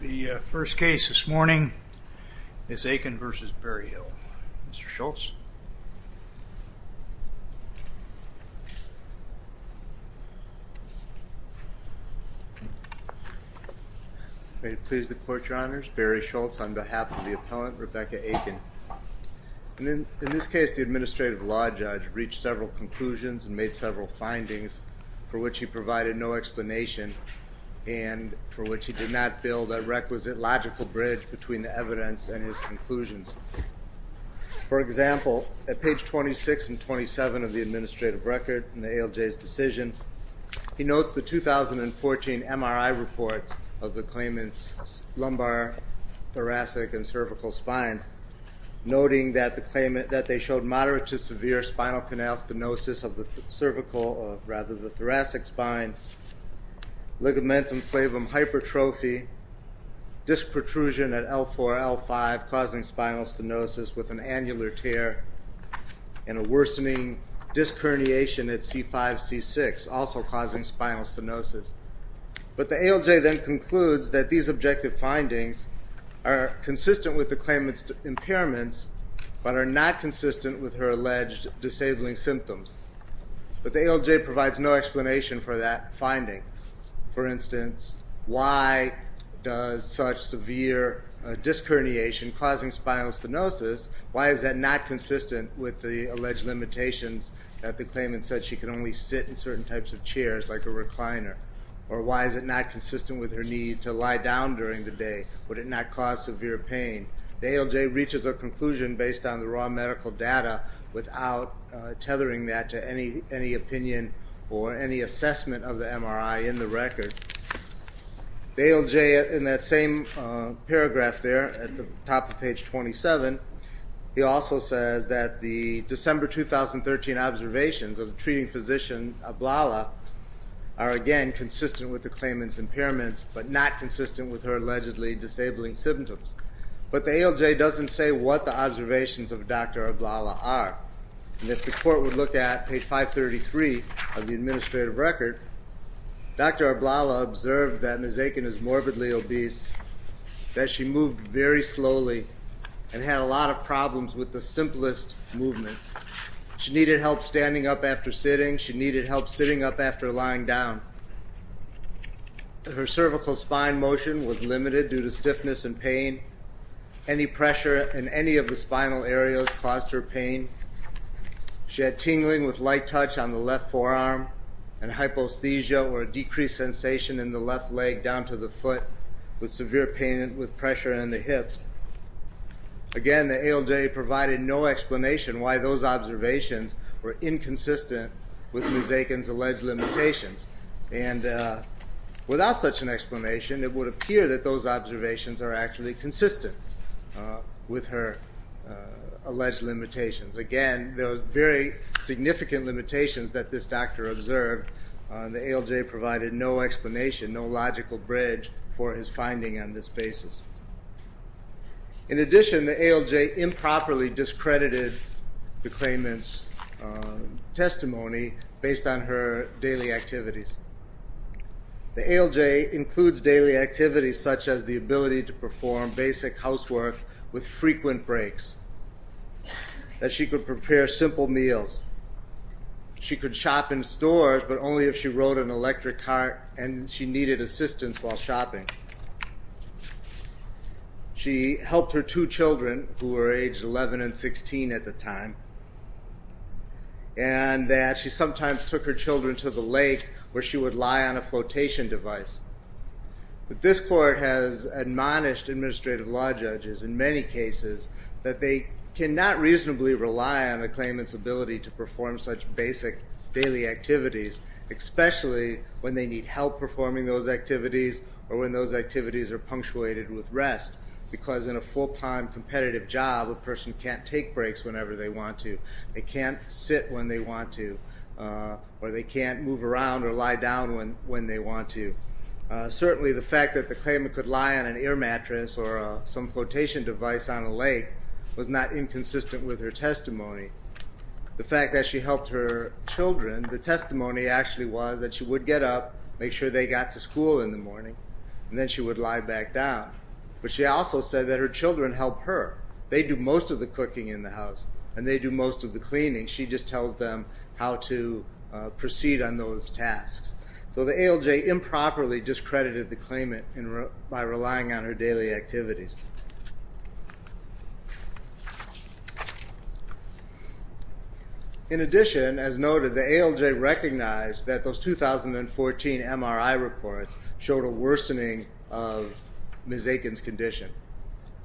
The first case this morning is Akin v. Berryhill. Mr. Schultz. May it please the Court, Your Honors. Barry Schultz on behalf of the appellant, Rebecca Akin. In this case, the administrative law judge reached several conclusions and made several findings for which he provided no explanation, and for which he did not build a requisite logical bridge between the evidence and his conclusions. For example, at page 26 and 27 of the administrative record in the ALJ's decision, he notes the 2014 MRI report of the claimant's lumbar, thoracic, and cervical spines, noting that they showed moderate to severe spinal canal stenosis of the cervical, or rather the thoracic spine, ligamentum flavum hypertrophy, disc protrusion at L4-L5 causing spinal stenosis with an annular tear, and a worsening disc herniation at C5-C6 also causing spinal stenosis. But the ALJ then concludes that these objective findings are consistent with the claimant's impairments but are not consistent with her alleged disabling symptoms. But the ALJ provides no explanation for that finding. For instance, why does such severe disc herniation causing spinal stenosis, why is that not consistent with the alleged limitations that the claimant said she can only sit in certain types of chairs like a recliner? Or why is it not consistent with her need to lie down during the day? Would it not cause severe pain? The ALJ reaches a conclusion based on the raw medical data without tethering that to any opinion or any assessment of the MRI in the record. The ALJ in that same paragraph there at the top of page 27, he also says that the December 2013 observations of the treating physician, Ablala, are again consistent with the claimant's impairments but not consistent with her allegedly disabling symptoms. But the ALJ doesn't say what the observations of Dr. Ablala are. And if the court would look at page 533 of the administrative record, Dr. Ablala observed that Ms. Aiken is morbidly obese, that she moved very slowly and had a lot of problems with the simplest movement. She needed help standing up after sitting. She needed help sitting up after lying down. Her cervical spine motion was limited due to stiffness and pain. Any pressure in any of the spinal areas caused her pain. She had tingling with light touch on the left forearm and hypesthesia or a decreased sensation in the left leg down to the foot with severe pain with pressure in the hips. Again, the ALJ provided no explanation why those observations were inconsistent with Ms. Aiken's alleged limitations. And without such an explanation, it would appear that those observations are actually consistent with her alleged limitations. Again, there were very significant limitations that this doctor observed. The ALJ provided no explanation, no logical bridge for his finding on this basis. In addition, the ALJ improperly discredited the claimant's testimony based on her daily activities. The ALJ includes daily activities such as the ability to perform basic housework with frequent breaks, that she could prepare simple meals. She could shop in stores, but only if she rode an electric cart and she needed assistance while shopping. She helped her two children, who were age 11 and 16 at the time, and that she sometimes took her children to the lake where she would lie on a flotation device. But this court has admonished administrative law judges in many cases that they cannot reasonably rely on a claimant's ability to perform such basic daily activities, especially when they need help performing those activities or when those activities are punctuated with rest, because in a full-time competitive job, a person can't take breaks whenever they want to. They can't sit when they want to, or they can't move around or lie down when they want to. Certainly, the fact that the claimant could lie on an air mattress or some flotation device on a lake was not inconsistent with her testimony. The fact that she helped her children, the testimony actually was that she would get up, make sure they got to school in the morning, and then she would lie back down. But she also said that her children helped her. They do most of the cooking in the house, and they do most of the cleaning. She just tells them how to proceed on those tasks. So the ALJ improperly discredited the claimant by relying on her daily activities. In addition, as noted, the ALJ recognized that those 2014 MRI reports showed a worsening of Ms. Aiken's condition.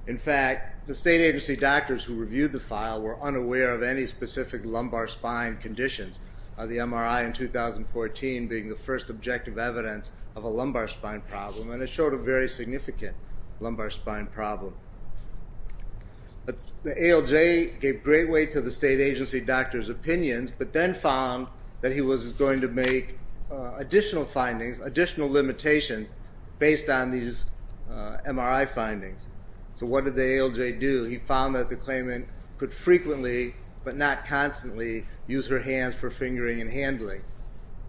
In fact, the state agency doctors who reviewed the file were unaware of any specific lumbar spine conditions, the MRI in 2014 being the first objective evidence of a lumbar spine problem, and it showed a very significant lumbar spine problem. The ALJ gave great weight to the state agency doctor's opinions but then found that he was going to make additional findings, additional limitations, based on these MRI findings. So what did the ALJ do? He found that the claimant could frequently but not constantly use her hands for fingering and handling.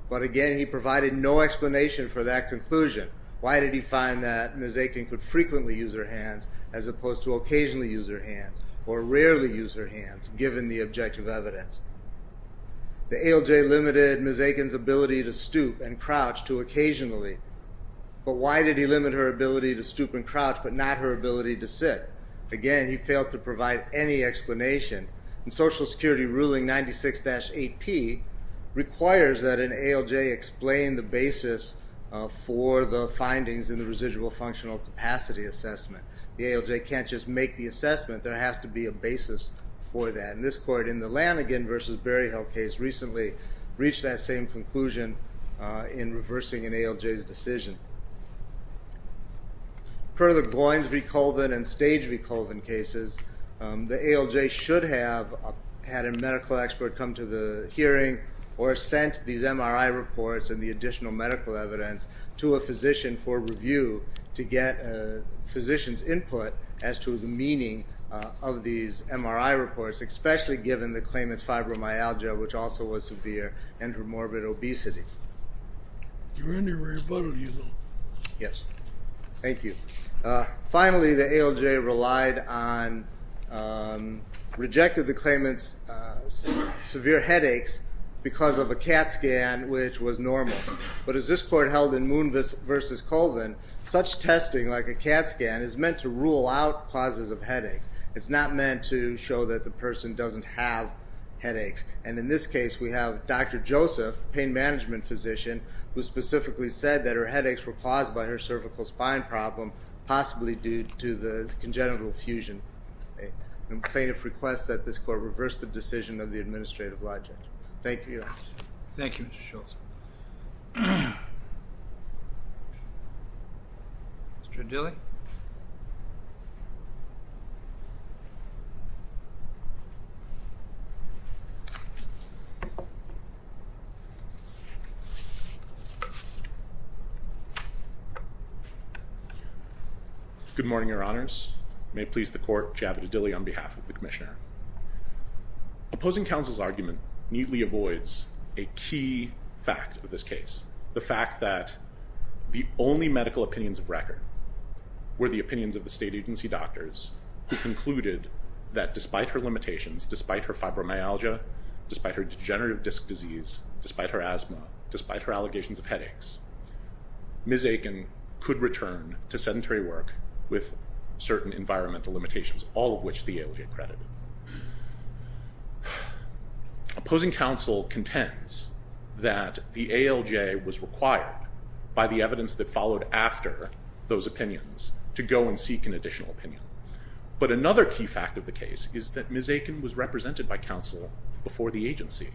But again, he provided no explanation for that conclusion. Why did he find that Ms. Aiken could frequently use her hands as opposed to occasionally use her hands or rarely use her hands, given the objective evidence? The ALJ limited Ms. Aiken's ability to stoop and crouch to occasionally, but why did he limit her ability to stoop and crouch but not her ability to sit? Again, he failed to provide any explanation. The Social Security ruling 96-8P requires that an ALJ explain the basis for the findings in the residual functional capacity assessment. The ALJ can't just make the assessment. There has to be a basis for that, and this court in the Lanigan v. Berryhill case recently reached that same conclusion in reversing an ALJ's decision. Per the Goins v. Colvin and Stage v. Colvin cases, the ALJ should have had a medical expert come to the hearing or sent these MRI reports and the additional medical evidence to a physician for review to get a physician's input as to the meaning of these MRI reports, especially given the claimant's fibromyalgia, which also was severe, and her morbid obesity. You're under rebuttal, you little... Yes. Thank you. Finally, the ALJ relied on, rejected the claimant's severe headaches because of a CAT scan, which was normal. But as this court held in Moon v. Colvin, such testing, like a CAT scan, is meant to rule out causes of headaches. It's not meant to show that the person doesn't have headaches. And in this case, we have Dr. Joseph, pain management physician, who specifically said that her headaches were caused by her cervical spine problem, possibly due to the congenital fusion. The plaintiff requests that this court reverse the decision of the administrative logic. Thank you. Thank you, Mr. Schultz. Mr. Dilley? Thank you. Good morning, Your Honors. May it please the court, Javid Dilley on behalf of the commissioner. Opposing counsel's argument neatly avoids a key fact of this case, the fact that the only medical opinions of record were the opinions of the state agency doctors who concluded that despite her limitations, despite her fibromyalgia, despite her degenerative disc disease, despite her asthma, despite her allegations of headaches, Ms. Aiken could return to sedentary work with certain environmental limitations, all of which the ALJ credited. Opposing counsel contends that the ALJ was required by the evidence that followed after those opinions to go and seek an additional opinion. But another key fact of the case is that Ms. Aiken was represented by counsel before the agency,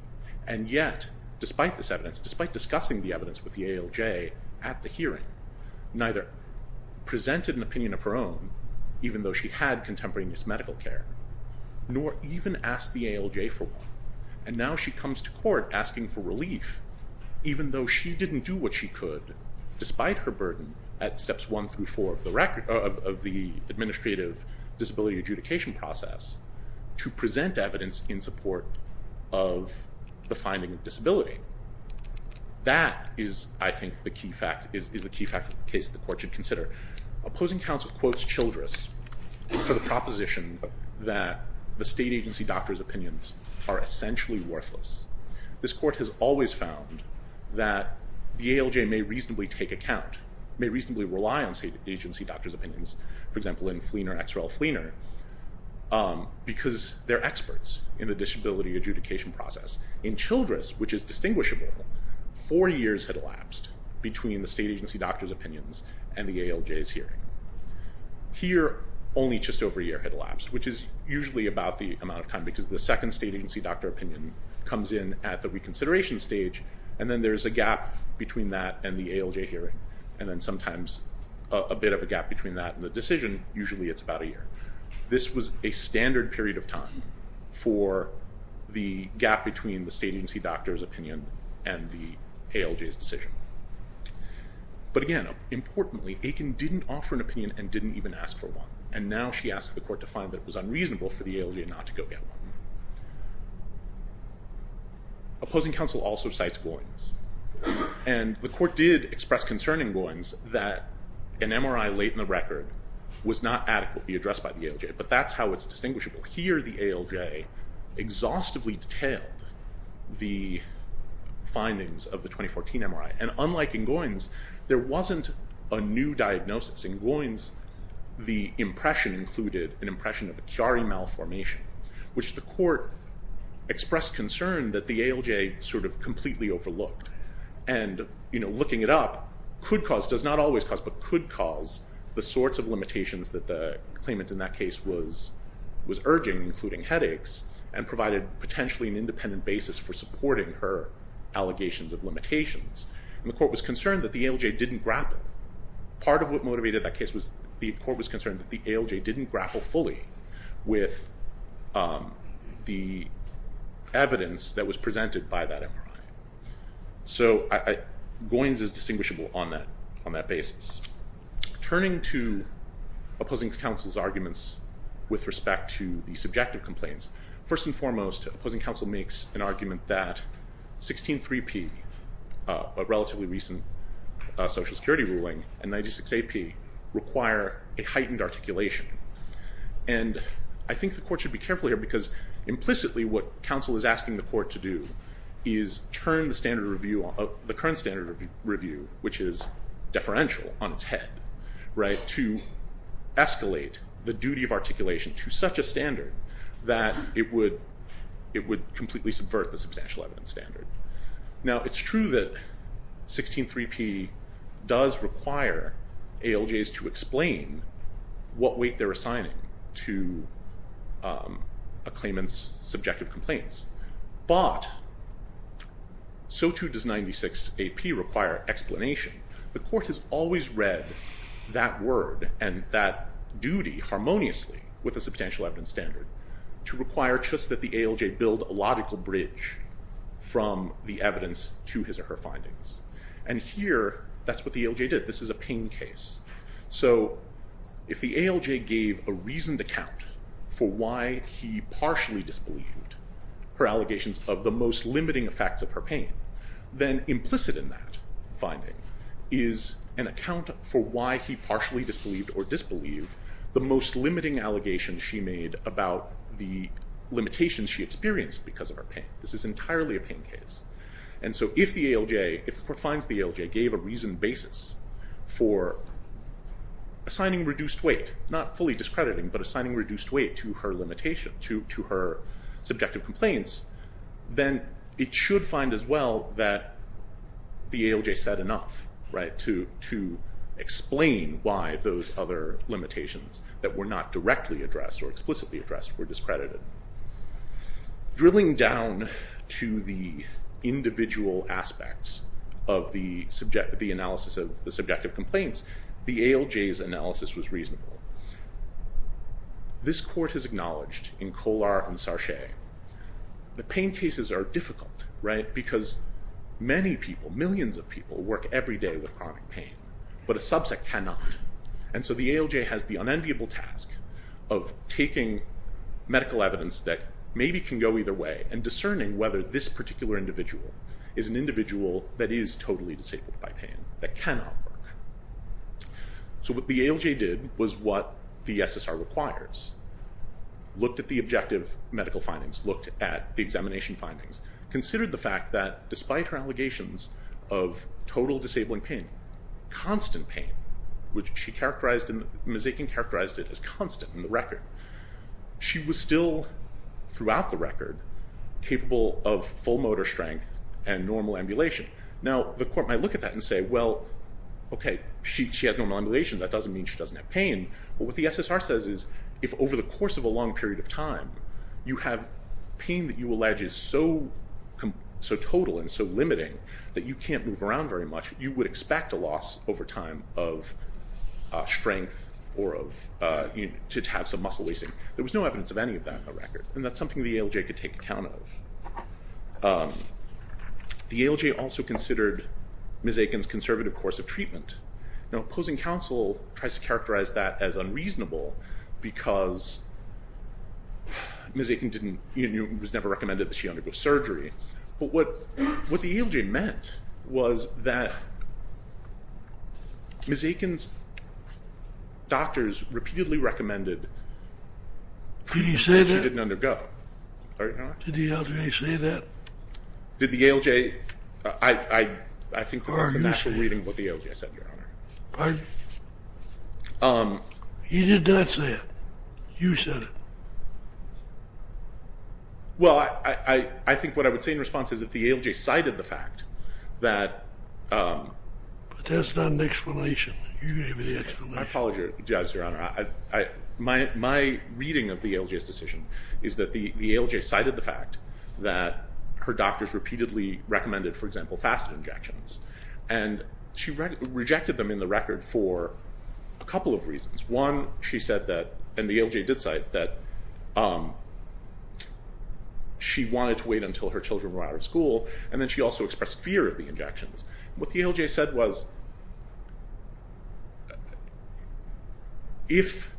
and yet, despite this evidence, despite discussing the evidence with the ALJ at the hearing, neither presented an opinion of her own, even though she had contemporaneous medical care, nor even asked the ALJ for one. And now she comes to court asking for relief, even though she didn't do what she could, despite her burden at steps one through four of the administrative disability adjudication process, to present evidence in support of the finding of disability. That is, I think, the key fact of the case that the court should consider. Opposing counsel quotes Childress for the proposition that the state agency doctor's opinions are essentially worthless. This court has always found that the ALJ may reasonably take account, may reasonably rely on state agency doctor's opinions, for example, in Fleener, X. Rel. Fleener, because they're experts in the disability adjudication process. In Childress, which is distinguishable, four years had elapsed between the state agency doctor's opinions and the ALJ's hearing. Here, only just over a year had elapsed, which is usually about the amount of time, because the second state agency doctor opinion comes in at the reconsideration stage, and then there's a gap between that and the ALJ hearing, and then sometimes a bit of a gap between that and the decision. Usually it's about a year. This was a standard period of time for the gap between the state agency doctor's opinion and the ALJ's decision. But again, importantly, Aiken didn't offer an opinion and didn't even ask for one. And now she asks the court to find that it was unreasonable for the ALJ not to go get one. Opposing counsel also cites Goins. And the court did express concern in Goins that an MRI late in the record was not adequately addressed by the ALJ, but that's how it's distinguishable. Here the ALJ exhaustively detailed the findings of the 2014 MRI, and unlike in Goins, there wasn't a new diagnosis. In Goins, the impression included an impression of a Chiari malformation, which the court expressed concern that the ALJ sort of completely overlooked. And, you know, looking it up, could cause, does not always cause, but could cause the sorts of limitations that the claimant in that case was urging, including headaches, and provided potentially an independent basis for supporting her allegations of limitations. And the court was concerned that the ALJ didn't grapple. Part of what motivated that case was the court was concerned that the ALJ didn't grapple fully with the evidence that was presented by that MRI. So Goins is distinguishable on that basis. Turning to opposing counsel's arguments with respect to the subjective complaints, first and foremost, opposing counsel makes an argument that 16.3p, a relatively recent Social Security ruling, and 96.8p require a heightened articulation. And I think the court should be careful here because implicitly what counsel is asking the court to do is turn the standard review, the current standard review, which is deferential on its head, to escalate the duty of articulation to such a standard that it would completely subvert the substantial evidence standard. Now it's true that 16.3p does require ALJs to explain what weight they're assigning to a claimant's subjective complaints. But so too does 96.8p require explanation. The court has always read that word and that duty harmoniously with a substantial evidence standard to require just that the ALJ build a logical bridge from the evidence to his or her findings. And here, that's what the ALJ did. This is a pain case. So if the ALJ gave a reasoned account for why he partially disbelieved her allegations of the most limiting effects of her pain, then implicit in that finding is an account for why he partially disbelieved or disbelieved the most limiting allegations she made about the limitations she experienced because of her pain. This is entirely a pain case. And so if the ALJ, if the court finds the ALJ gave a reasoned basis for assigning reduced weight, not fully discrediting, but assigning reduced weight to her limitation, to her subjective complaints, then it should find as well that the ALJ said enough to explain why those other limitations that were not directly addressed or explicitly addressed were discredited. Drilling down to the individual aspects of the analysis of the subjective complaints, the ALJ's analysis was reasonable. This court has acknowledged in Kolar and Sarche, the pain cases are difficult, right? Because many people, millions of people work every day with chronic pain, but a subset cannot. And so the ALJ has the unenviable task of taking medical evidence that maybe can go either way and discerning whether this particular individual is an individual that is totally disabled by pain, that cannot work. So what the ALJ did was what the SSR requires. Looked at the objective medical findings, looked at the examination findings, considered the fact that despite her allegations of total disabling pain, constant pain, which she characterized in the mosaic and characterized it as constant in the record, she was still, throughout the record, capable of full motor strength and normal ambulation. Now, the court might look at that and say, well, okay, she has normal ambulation. That doesn't mean she doesn't have pain. But what the SSR says is if over the course of a long period of time, you have pain that you allege is so total and so limiting that you can't move around very much, you would expect a loss over time of strength or to have some muscle wasting. There was no evidence of any of that in the record. And that's something the ALJ could take account of. The ALJ also considered mosaic and its conservative course of treatment. Now, opposing counsel tries to characterize that as unreasonable because Ms. Aitken was never recommended that she undergo surgery. But what the ALJ meant was that Ms. Aitken's doctors repeatedly recommended that she didn't undergo. Did the ALJ say that? Did the ALJ? I think that's a natural reading of what the ALJ said, Your Honor. Pardon? He did not say it. You said it. Well, I think what I would say in response is that the ALJ cited the fact that But that's not an explanation. You gave me the explanation. I apologize, Your Honor. My reading of the ALJ's decision is that the ALJ cited the fact that her doctors repeatedly recommended, for example, facet injections. And she rejected them in the record for a couple of reasons. One, she said that, and the ALJ did cite, that she wanted to wait until her children were out of school, and then she also expressed fear of the injections. What the ALJ said was, if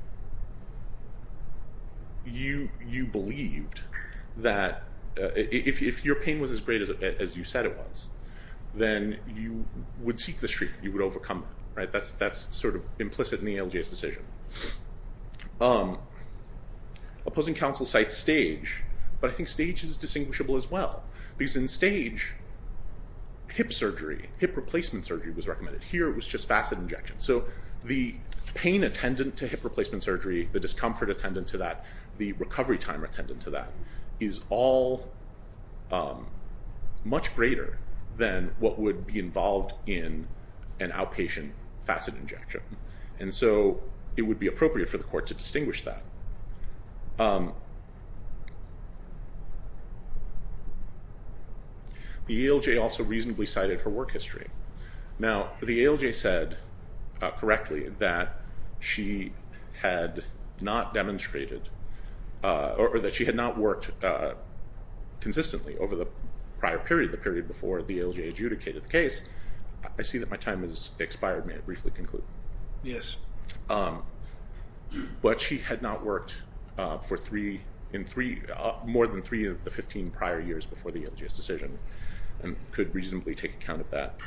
you believed that, if your pain was as great as you said it was, then you would seek the street. You would overcome it. That's sort of implicit in the ALJ's decision. Opposing counsel cites stage, but I think stage is distinguishable as well. Because in stage, hip surgery, hip replacement surgery was recommended. Here it was just facet injections. So the pain attendant to hip replacement surgery, the discomfort attendant to that, the recovery time attendant to that, is all much greater than what would be involved in an outpatient facet injection. And so it would be appropriate for the court to distinguish that. The ALJ also reasonably cited her work history. Now, the ALJ said correctly that she had not demonstrated, or that she had not worked consistently over the prior period, the period before the ALJ adjudicated the case. I see that my time has expired. May I briefly conclude? Yes. But she had not worked for more than three of the 15 prior years before the ALJ's decision and could reasonably take account of that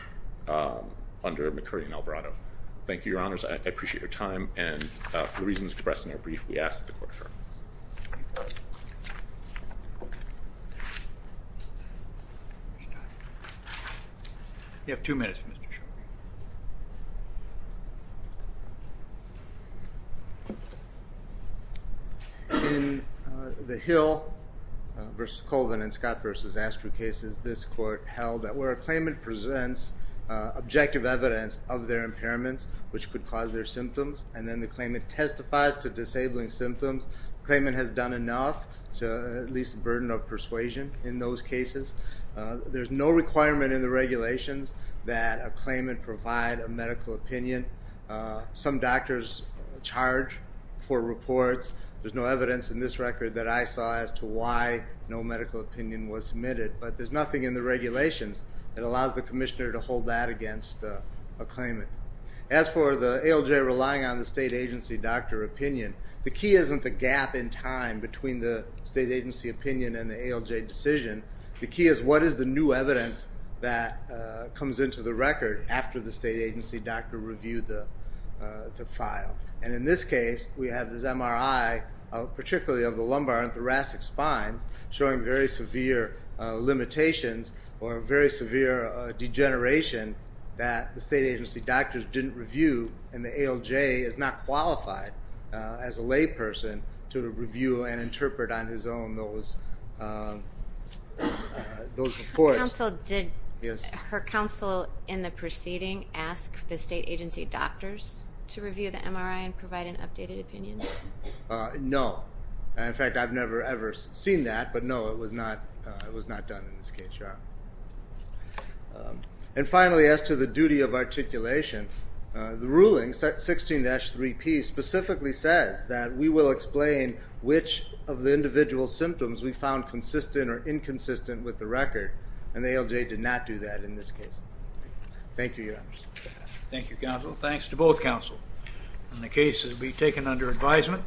under McCurdy and Alvarado. Thank you, Your Honors. I appreciate your time. And for the reasons expressed in our brief, we ask that the court adjourn. You have two minutes, Mr. Shulman. In the Hill v. Colvin and Scott v. Astro cases, this court held that where a claimant presents objective evidence of their impairments, which could cause their symptoms, and then the claimant testifies to disabling symptoms, the claimant has done enough to at least a burden of persuasion in those cases. There's no requirement in the regulations that a claimant provide a medical opinion. Some doctors charge for reports. There's no evidence in this record that I saw as to why no medical opinion was submitted. But there's nothing in the regulations that allows the commissioner to hold that against a claimant. As for the ALJ relying on the state agency doctor opinion, the key isn't the gap in time between the state agency opinion and the ALJ decision. The key is what is the new evidence that comes into the record after the state agency doctor reviewed the file. And in this case, we have this MRI, particularly of the lumbar and thoracic spine, showing very severe limitations or very severe degeneration that the state agency doctors didn't review, and the ALJ is not qualified as a layperson to review and interpret on his own those reports. Did her counsel in the proceeding ask the state agency doctors to review the MRI and provide an updated opinion? No. In fact, I've never ever seen that, but no, it was not done in this case, Your Honor. And finally, as to the duty of articulation, the ruling, 16-3P, specifically says that we will explain which of the individual symptoms we found consistent or inconsistent with the record, and the ALJ did not do that in this case. Thank you, Your Honor. Thank you, counsel. Thanks to both counsel. And the case will be taken under advisement.